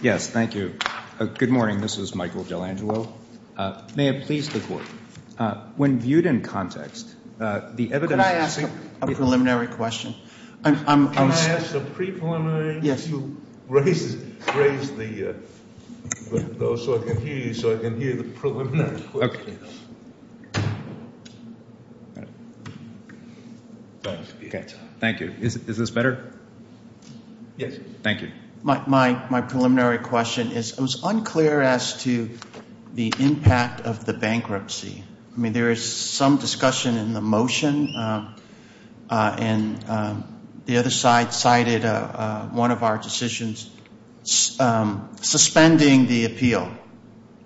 Yes, thank you. Good morning, this is Michael Delangelo. May it please the Court, when viewed in context, the evidence... Can I ask a preliminary question? Can I ask the pre-preliminary to raise the, so I can hear you, so I can hear the preliminary question? Thank you. Is this better? Yes. Thank you. My preliminary question is, it was unclear as to the impact of the bankruptcy. I mean, there is some discussion in the motion, and the other side cited one of our decisions suspending the appeal.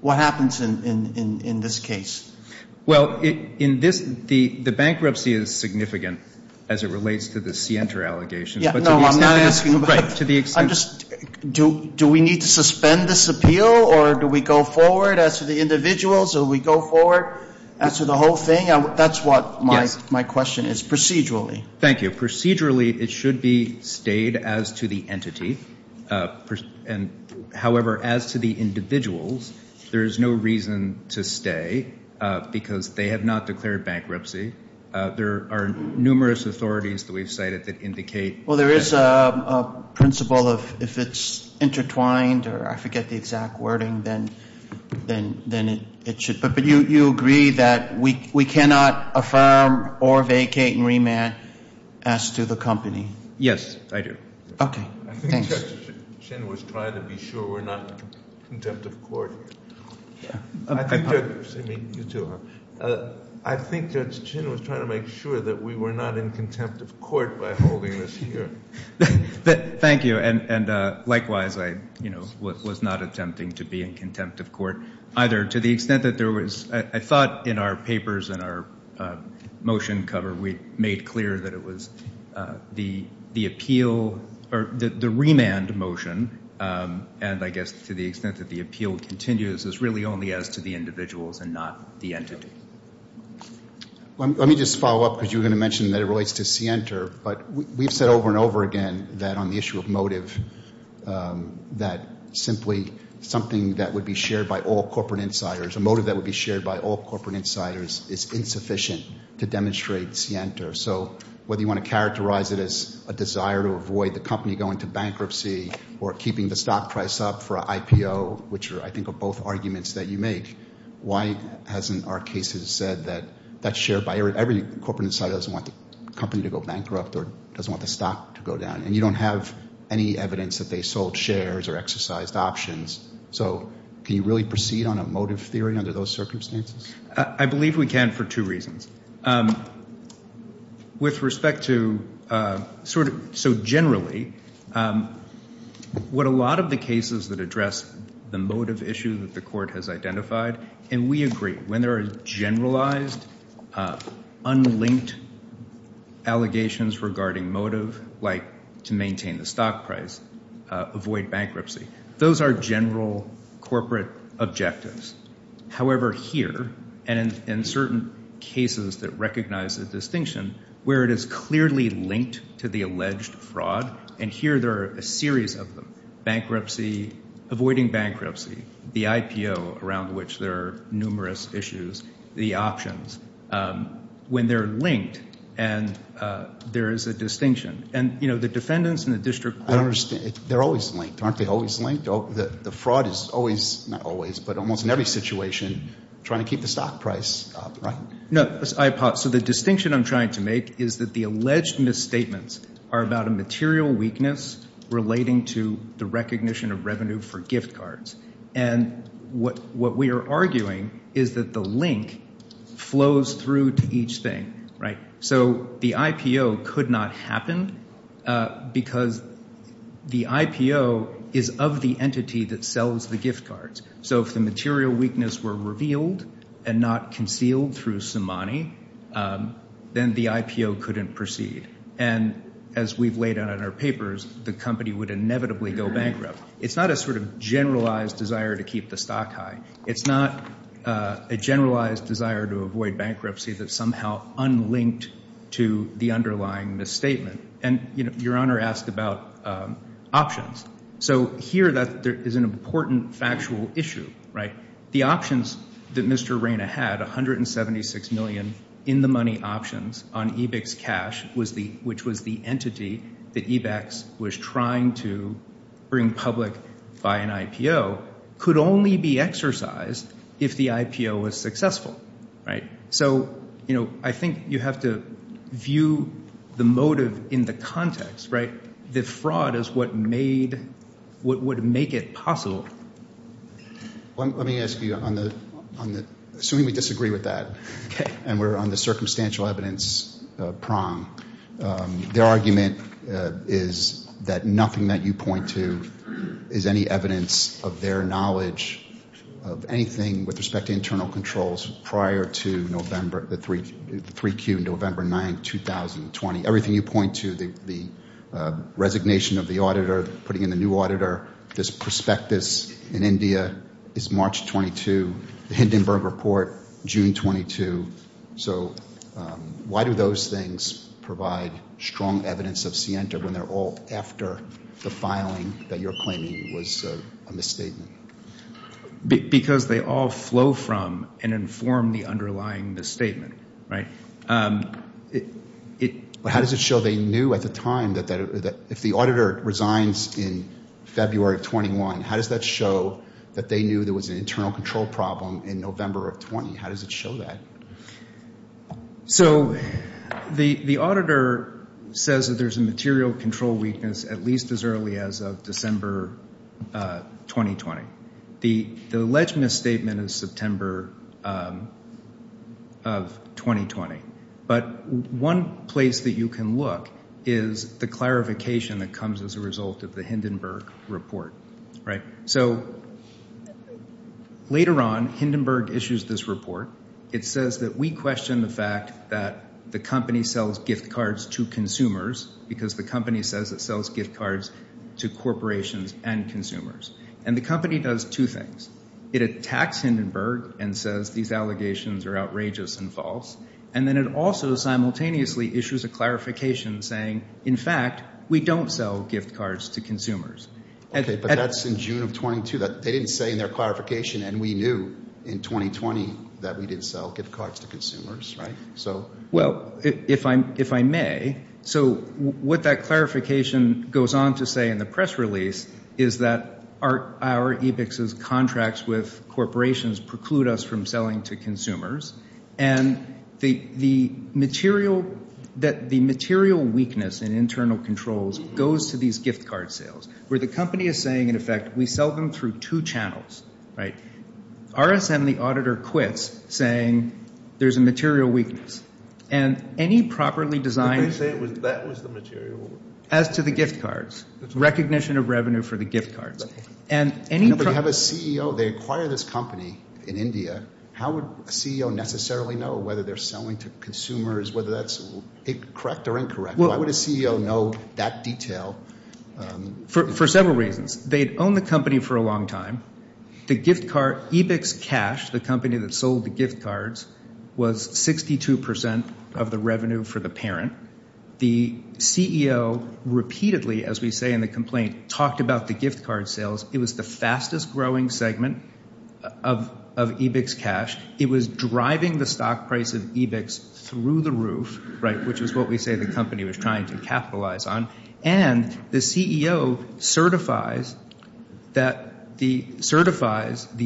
What happens in this case? Well, in this, the bankruptcy is significant as it relates to the Sienta allegations. No, I'm not asking... Right, to the extent... I'm just, do we need to suspend this appeal, or do we go forward as to the individuals, or do we go forward as to the whole thing? That's what my question is, procedurally. Thank you. Procedurally, it should be stayed as to the entity. However, as to the individuals, there is no reason to stay, because they have not declared bankruptcy. There are numerous authorities that we've cited that indicate... Well, there is a principle of if it's intertwined, or I forget the exact wording, then it should... But you agree that we cannot affirm or vacate and remand as to the company? Yes, I do. Okay. Thanks. I think Judge Chin was trying to be sure we're not contempt of court. I think that... I mean, you too, huh? I think Judge Chin was trying to make sure that we were not in contempt of court by holding this hearing. Thank you, and likewise, I was not attempting to be in contempt of court either, to the extent that there was... I thought in our papers and our motion cover, we made clear that it was the appeal, or the remand motion, and I guess to the extent that the appeal continues is really only as to the individuals and not the entity. Let me just follow up, because you were going to mention that it relates to Sienter, but we've said over and over again that on the issue of motive, that simply something that would be shared by all corporate insiders, a motive that would be shared by all corporate insiders is insufficient to demonstrate Sienter. So whether you want to characterize it as a desire to avoid the company going to bankruptcy or keeping the stock price up for an IPO, which are, I think, both arguments that you make, why hasn't our case said that that share by every corporate insider doesn't want the company to go bankrupt or doesn't want the stock to go down? And you don't have any evidence that they sold shares or exercised options. So can you really proceed on a motive theory under those circumstances? I believe we can for two reasons. With respect to sort of so generally, what a lot of the cases that address the motive issue that the court has identified, and we agree when there are generalized, unlinked allegations regarding motive, like to maintain the stock price, avoid bankruptcy, those are general corporate objectives. However, here, and in certain cases that recognize the distinction, where it is clearly linked to the alleged fraud, and here there are a series of them, bankruptcy, avoiding bankruptcy, the IPO, around which there are numerous issues, the options, when they're linked and there is a distinction. And, you know, the defendants and the district court. I don't understand. They're always linked. Aren't they always linked? The fraud is always, not always, but almost in every situation trying to keep the stock price up, right? No, I apologize. So the distinction I'm trying to make is that the alleged misstatements are about a material weakness relating to the recognition of revenue for gift cards. And what we are arguing is that the link flows through to each thing, right? So the IPO could not happen because the IPO is of the entity that sells the gift cards. So if the material weakness were revealed and not concealed through Somani, then the IPO couldn't proceed. And as we've laid out in our papers, the company would inevitably go bankrupt. It's not a sort of generalized desire to keep the stock high. It's not a generalized desire to avoid bankruptcy that's somehow unlinked to the underlying misstatement. And, you know, Your Honor asked about options. So here there is an important factual issue, right? The options that Mr. Reyna had, $176 million in the money options on EBICS cash, which was the entity that EBICS was trying to bring public by an IPO, could only be exercised if the IPO was successful, right? So, you know, I think you have to view the motive in the context, right? The fraud is what made, what would make it possible. Let me ask you on the, assuming we disagree with that, and we're on the circumstantial evidence prong, their argument is that nothing that you point to is any evidence of their knowledge of anything with respect to internal controls prior to November, the 3Q, November 9, 2020. Everything you point to, the resignation of the auditor, putting in a new auditor, this prospectus in India is March 22, the Hindenburg Report, June 22. So why do those things provide strong evidence of scienter when they're all after the filing that you're claiming was a misstatement? Because they all flow from and inform the underlying misstatement, right? How does it show they knew at the time that if the auditor resigns in February of 21, how does that show that they knew there was an internal control problem in November of 20? How does it show that? So the auditor says that there's a material control weakness at least as early as of December 2020. The alleged misstatement is September of 2020. But one place that you can look is the clarification that comes as a result of the Hindenburg Report, right? So later on, Hindenburg issues this report. It says that we question the fact that the company sells gift cards to consumers because the company says it sells gift cards to corporations and consumers. And the company does two things. It attacks Hindenburg and says these allegations are outrageous and false. And then it also simultaneously issues a clarification saying, in fact, we don't sell gift cards to consumers. Okay, but that's in June of 22. They didn't say in their clarification, and we knew in 2020 that we didn't sell gift cards to consumers, right? Well, if I may, so what that clarification goes on to say in the press release is that our EBICS's contracts with corporations preclude us from selling to consumers. And the material weakness in internal controls goes to these gift card sales where the company is saying, in effect, we sell them through two channels, right? RSM, the auditor, quits saying there's a material weakness. And any properly designed— But they say that was the material. As to the gift cards, recognition of revenue for the gift cards. No, but you have a CEO. They acquire this company in India. How would a CEO necessarily know whether they're selling to consumers, whether that's correct or incorrect? Why would a CEO know that detail? For several reasons. They'd owned the company for a long time. The gift card EBICS cash, the company that sold the gift cards, was 62% of the revenue for the parent. The CEO repeatedly, as we say in the complaint, talked about the gift card sales. It was the fastest-growing segment of EBICS cash. It was driving the stock price of EBICS through the roof, right, which is what we say the company was trying to capitalize on. And the CEO certifies the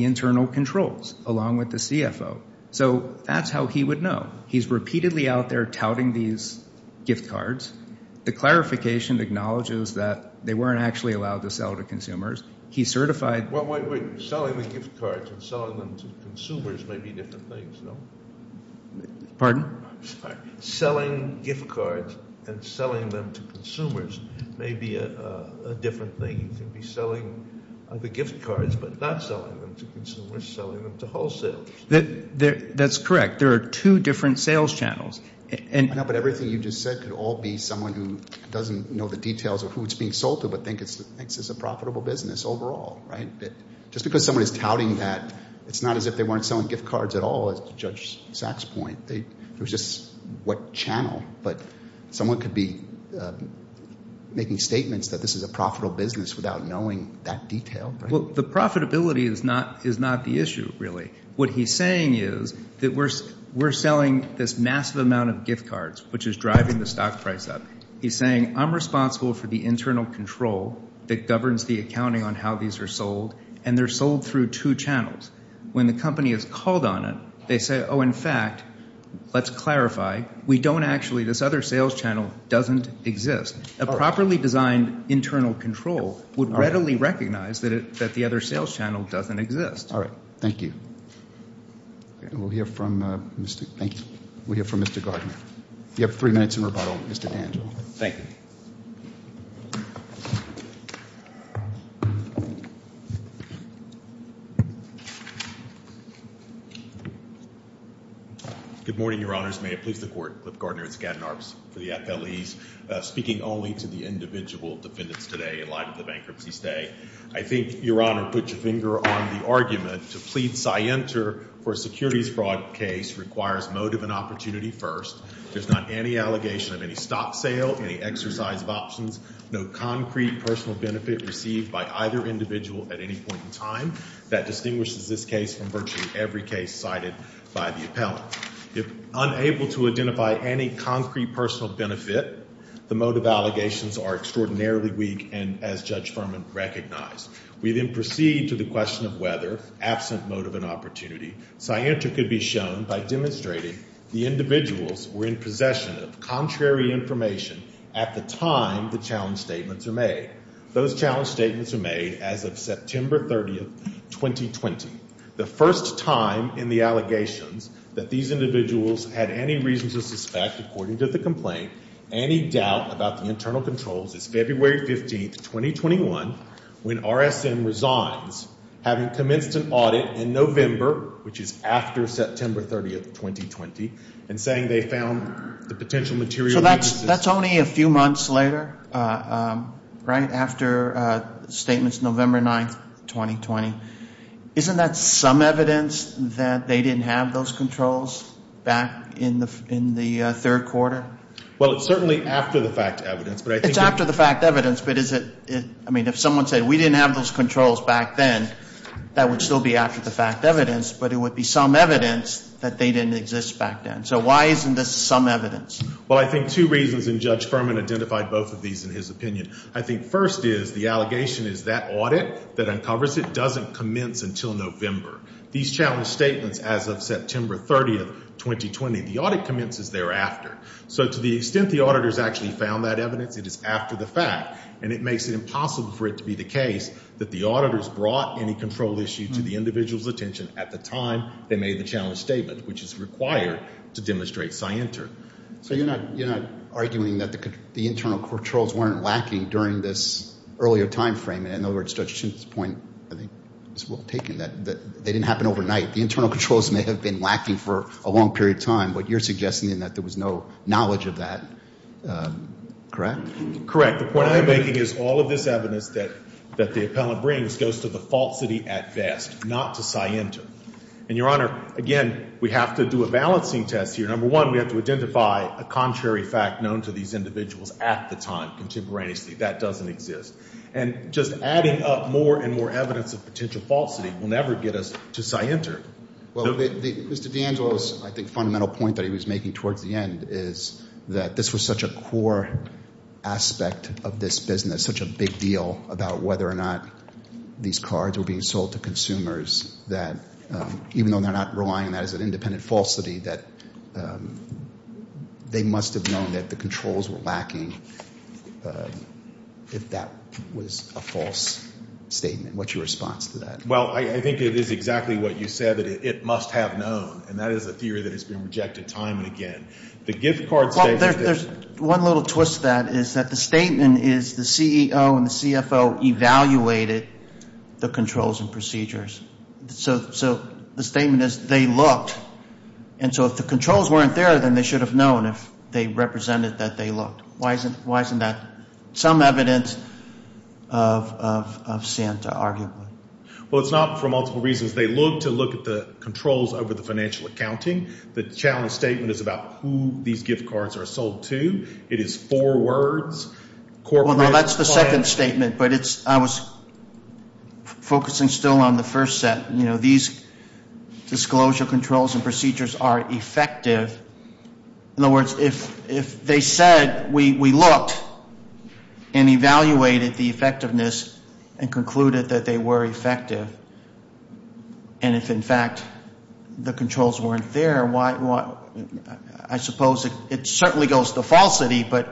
internal controls along with the CFO. So that's how he would know. He's repeatedly out there touting these gift cards. The clarification acknowledges that they weren't actually allowed to sell to consumers. He certified— Wait, wait, wait. Selling the gift cards and selling them to consumers may be different things, no? Pardon? Sorry. Selling gift cards and selling them to consumers may be a different thing. You can be selling the gift cards but not selling them to consumers, selling them to wholesale. That's correct. There are two different sales channels. No, but everything you just said could all be someone who doesn't know the details of who it's being sold to but thinks it's a profitable business overall, right? Just because someone is touting that, it's not as if they weren't selling gift cards at all, as to Judge Sachs' point. It was just what channel. But someone could be making statements that this is a profitable business without knowing that detail. Well, the profitability is not the issue, really. What he's saying is that we're selling this massive amount of gift cards, which is driving the stock price up. He's saying I'm responsible for the internal control that governs the accounting on how these are sold, and they're sold through two channels. When the company is called on it, they say, oh, in fact, let's clarify. We don't actually—this other sales channel doesn't exist. A properly designed internal control would readily recognize that the other sales channel doesn't exist. All right. Thank you. And we'll hear from Mr. Gardner. You have three minutes in rebuttal, Mr. Dan. Thank you. Good morning, Your Honors. May it please the Court. Cliff Gardner at Skadden Arbs for the FLEs. Speaking only to the individual defendants today in light of the bankruptcy stay, I think, Your Honor, put your finger on the argument to plead scienter for a securities fraud case requires motive and opportunity first. There's not any allegation of any stock sale, any exercise of options, no concrete personal benefit received by either individual at any point in time. That distinguishes this case from virtually every case cited by the appellant. If unable to identify any concrete personal benefit, the motive allegations are extraordinarily weak and, as Judge Furman recognized. We then proceed to the question of whether, absent motive and opportunity, scienter could be shown by demonstrating the individuals were in possession of contrary information at the time the challenge statements were made. Those challenge statements were made as of September 30, 2020, the first time in the allegations that these individuals had any reason to suspect, according to the complaint, any doubt about the internal controls as February 15, 2021, when RSM resigns, having commenced an audit in November, which is after September 30, 2020, and saying they found the potential material. So that's only a few months later, right? After statements November 9, 2020. Isn't that some evidence that they didn't have those controls back in the third quarter? Well, it's certainly after the fact evidence. It's after the fact evidence, but is it? I mean, if someone said we didn't have those controls back then, that would still be after the fact evidence, but it would be some evidence that they didn't exist back then. So why isn't this some evidence? Well, I think two reasons, and Judge Furman identified both of these in his opinion. I think first is the allegation is that audit that uncovers it doesn't commence until November. These challenge statements as of September 30, 2020, the audit commences thereafter. So to the extent the auditors actually found that evidence, it is after the fact, and it makes it impossible for it to be the case that the auditors brought any control issue to the individual's attention at the time they made the challenge statement, which is required to demonstrate scienter. So you're not arguing that the internal controls weren't lacking during this earlier time frame. In other words, Judge Simpson's point, I think, is well taken, that they didn't happen overnight. The internal controls may have been lacking for a long period of time, but you're suggesting that there was no knowledge of that, correct? Correct. The point I'm making is all of this evidence that the appellant brings goes to the falsity at best, not to scienter. And, Your Honor, again, we have to do a balancing test here. Number one, we have to identify a contrary fact known to these individuals at the time contemporaneously. That doesn't exist. And just adding up more and more evidence of potential falsity will never get us to scienter. Well, Mr. D'Angelo's, I think, fundamental point that he was making towards the end is that this was such a core aspect of this business, such a big deal about whether or not these cards were being sold to consumers, that even though they're not relying on that as an independent falsity, that they must have known that the controls were lacking if that was a false statement. What's your response to that? Well, I think it is exactly what you said, that it must have known. And that is a theory that has been rejected time and again. The gift card statement is there. Well, there's one little twist to that is that the statement is the CEO and the CFO evaluated the controls and procedures. So the statement is they looked. And so if the controls weren't there, then they should have known if they represented that they looked. Why isn't that some evidence of Santa, arguably? Well, it's not for multiple reasons. They looked to look at the controls over the financial accounting. The challenge statement is about who these gift cards are sold to. It is four words, corporate, client. Well, no, that's the second statement. But I was focusing still on the first set. You know, these disclosure controls and procedures are effective. In other words, if they said we looked and evaluated the effectiveness and concluded that they were effective, and if, in fact, the controls weren't there, I suppose it certainly goes to falsity. But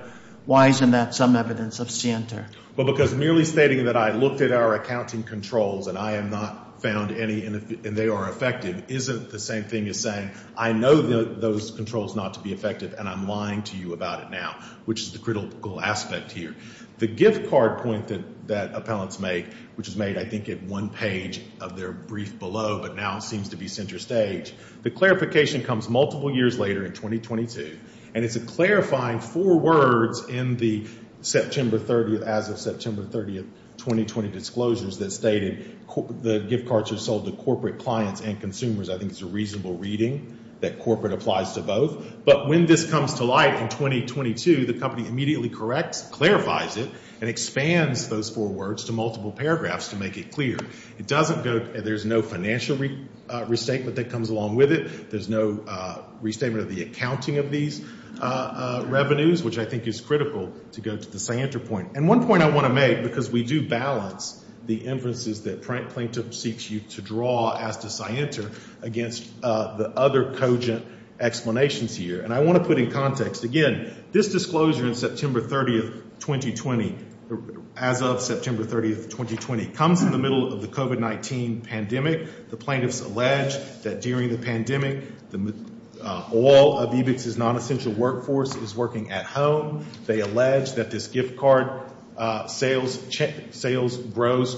why isn't that some evidence of Santa? Well, because merely stating that I looked at our accounting controls and I have not found any, and they are effective, isn't the same thing as saying I know those controls not to be effective and I'm lying to you about it now, which is the critical aspect here. The gift card point that appellants make, which is made, I think, at one page of their brief below, but now it seems to be center stage, the clarification comes multiple years later in 2022, and it's a clarifying four words in the September 30th, as of September 30th, 2020, that stated the gift cards are sold to corporate clients and consumers. I think it's a reasonable reading that corporate applies to both. But when this comes to light in 2022, the company immediately corrects, clarifies it, and expands those four words to multiple paragraphs to make it clear. There's no financial restatement that comes along with it. There's no restatement of the accounting of these revenues, which I think is critical to go to the Santa point. And one point I want to make, because we do balance the inferences that Plaintiff seeks you to draw as to Cienter, against the other cogent explanations here. And I want to put in context, again, this disclosure in September 30th, 2020, as of September 30th, 2020, comes in the middle of the COVID-19 pandemic. The plaintiffs allege that during the pandemic, all of EBICS's non-essential workforce is working at home. They allege that this gift card sales rose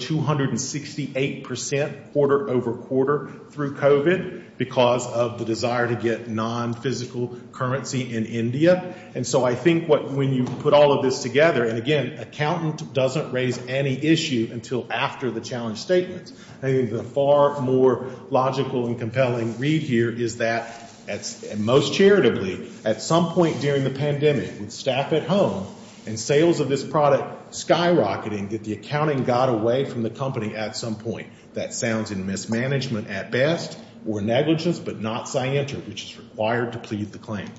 268% quarter over quarter through COVID, because of the desire to get non-physical currency in India. And so I think when you put all of this together, and again, accountant doesn't raise any issue until after the challenge statements. I think the far more logical and compelling read here is that, most charitably, at some point during the pandemic, with staff at home and sales of this product skyrocketing, that the accounting got away from the company at some point. That sounds in mismanagement at best, or negligence, but not Cienter, which is required to plead the claim.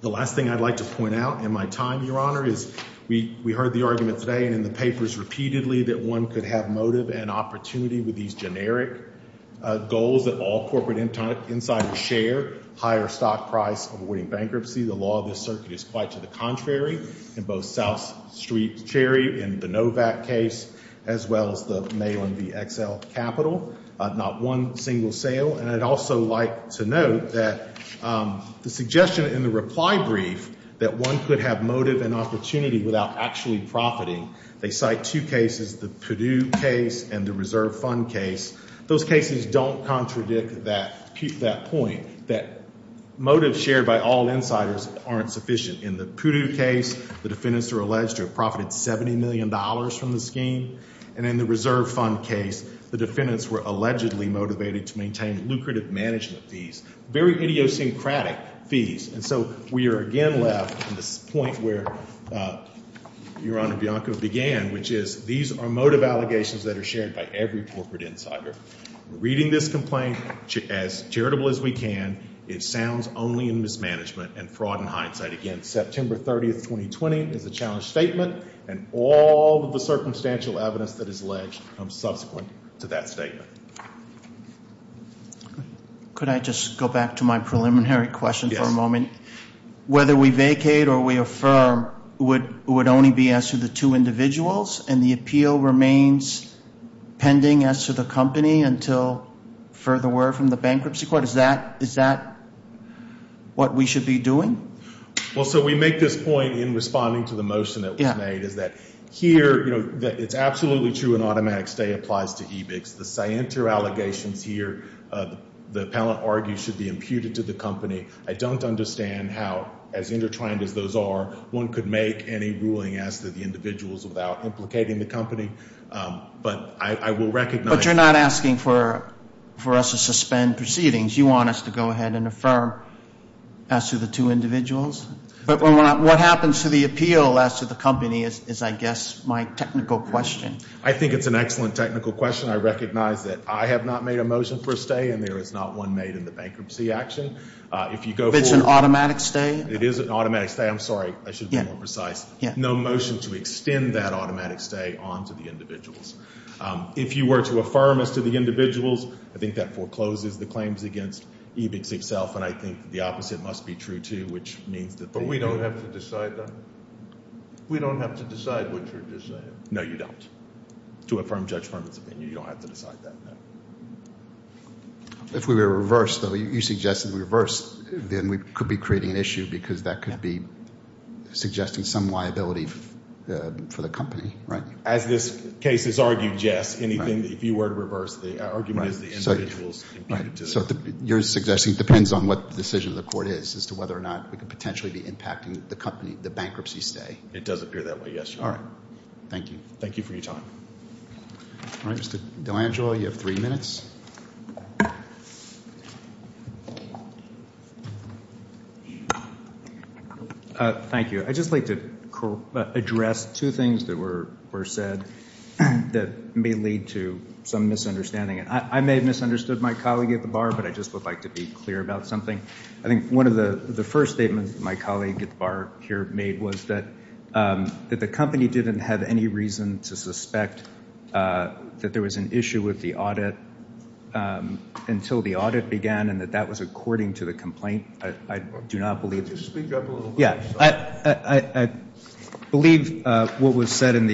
The last thing I'd like to point out in my time, Your Honor, is we heard the argument today and in the papers repeatedly, that one could have motive and opportunity with these generic goals that all corporate insiders share, higher stock price, avoiding bankruptcy. The law of this circuit is quite to the contrary, in both South Street Cherry, in the Novak case, as well as the Mayland VXL Capital, not one single sale. And I'd also like to note that the suggestion in the reply brief, that one could have motive and opportunity without actually profiting, they cite two cases, the Purdue case and the Reserve Fund case. Those cases don't contradict that point, that motives shared by all insiders aren't sufficient. In the Purdue case, the defendants are alleged to have profited $70 million from the scheme. And in the Reserve Fund case, the defendants were allegedly motivated to maintain lucrative management fees, very idiosyncratic fees. And so we are again left at this point where Your Honor, Bianco began, which is these are motive allegations that are shared by every corporate insider. Reading this complaint as charitable as we can, it sounds only in mismanagement and fraud in hindsight. Again, September 30th, 2020 is a challenge statement, and all of the circumstantial evidence that is alleged comes subsequent to that statement. Could I just go back to my preliminary question for a moment? Yes. Whether we vacate or we affirm would only be as to the two individuals, and the appeal remains pending as to the company until further word from the bankruptcy court? Is that what we should be doing? Well, so we make this point in responding to the motion that was made, is that here it's absolutely true an automatic stay applies to EBICS. The scienter allegations here, the appellant argues, should be imputed to the company. I don't understand how, as intertwined as those are, one could make any ruling as to the individuals without implicating the company. But I will recognize that. But you're not asking for us to suspend proceedings. You want us to go ahead and affirm as to the two individuals? But what happens to the appeal as to the company is, I guess, my technical question. I think it's an excellent technical question. I recognize that I have not made a motion for a stay, and there is not one made in the bankruptcy action. If you go forward. It's an automatic stay? It is an automatic stay. I'm sorry. I should be more precise. No motion to extend that automatic stay on to the individuals. If you were to affirm as to the individuals, I think that forecloses the claims against EBICS itself, and I think the opposite must be true, too, which means that they do. But we don't have to decide that? We don't have to decide what you're just saying. No, you don't. To affirm Judge Furman's opinion, you don't have to decide that, no. If we were to reverse, though, you suggested we reverse, then we could be creating an issue because that could be suggesting some liability for the company, right? As this case is argued, yes. If you were to reverse, the argument is the individuals imputed to the company. So you're suggesting it depends on what the decision of the court is as to whether or not we could potentially be impacting the company, the bankruptcy stay? It does appear that way, yes. All right. Thank you. Thank you for your time. Mr. DelAngelo, you have three minutes. Thank you. I'd just like to address two things that were said that may lead to some misunderstanding. I may have misunderstood my colleague at the bar, but I just would like to be clear about something. I think one of the first statements my colleague at the bar here made was that the company didn't have any reason to suspect that there was an issue with the audit until the audit began and that that was according to the complaint. I do not believe that. Could you speak up a little bit? I believe what was said in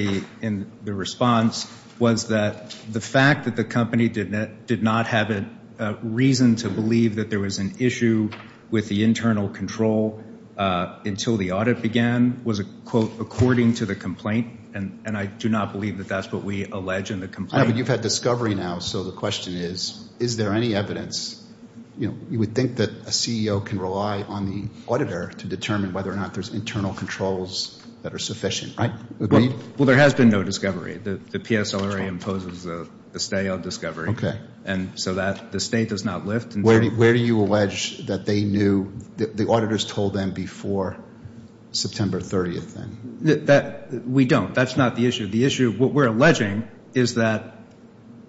the response was that the fact that the company did not have a reason to believe that there was an issue with the internal control until the audit began was, quote, according to the complaint, and I do not believe that that's what we allege in the complaint. I know, but you've had discovery now, so the question is, is there any evidence? You know, you would think that a CEO can rely on the auditor to determine whether or not there's internal controls that are sufficient, right? Well, there has been no discovery. The PSLRA imposes a stay on discovery. Okay. And so that, the State does not lift. Where do you allege that they knew, the auditors told them before September 30th, then? We don't. That's not the issue. The issue, what we're alleging is that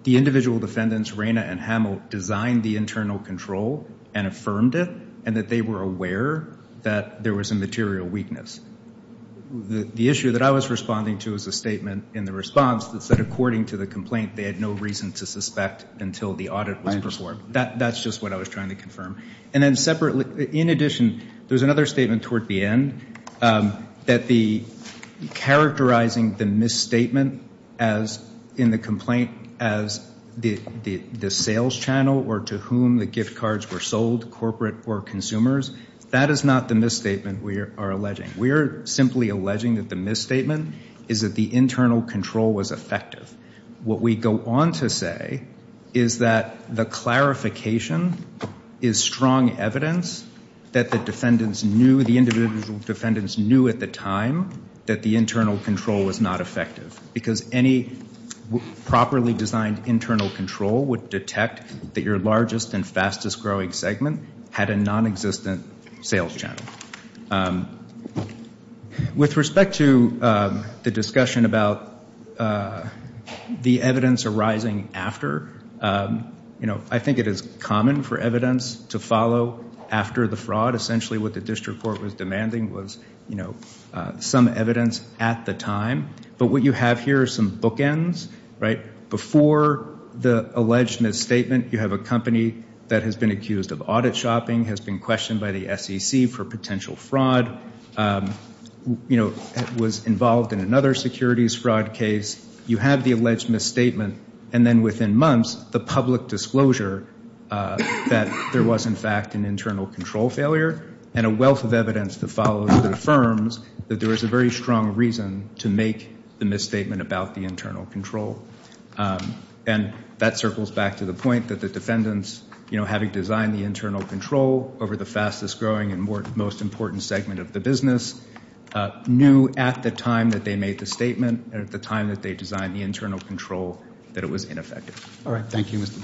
the individual defendants, Reyna and Hamill, designed the internal control and affirmed it, and that they were aware that there was a material weakness. The issue that I was responding to is a statement in the response that said, according to the complaint, they had no reason to suspect until the audit was performed. That's just what I was trying to confirm. And then separately, in addition, there's another statement toward the end, that characterizing the misstatement in the complaint as the sales channel or to whom the gift cards were sold, corporate or consumers, that is not the misstatement we are alleging. We are simply alleging that the misstatement is that the internal control was effective. What we go on to say is that the clarification is strong evidence that the defendants knew, the individual defendants knew at the time that the internal control was not effective because any properly designed internal control would detect that your largest and fastest growing segment had a nonexistent sales channel. With respect to the discussion about the evidence arising after, I think it is common for evidence to follow after the fraud, essentially what the district court was demanding was some evidence at the time. But what you have here are some bookends. Before the alleged misstatement, you have a company that has been accused of audit shopping, has been questioned by the SEC for potential fraud, was involved in another securities fraud case. You have the alleged misstatement, and then within months, the public disclosure that there was in fact an internal control failure and a wealth of evidence that follows that affirms that there is a very strong reason to make the misstatement about the internal control. And that circles back to the point that the defendants, you know, having designed the internal control over the fastest growing and most important segment of the business, knew at the time that they made the statement and at the time that they designed the internal control that it was ineffective.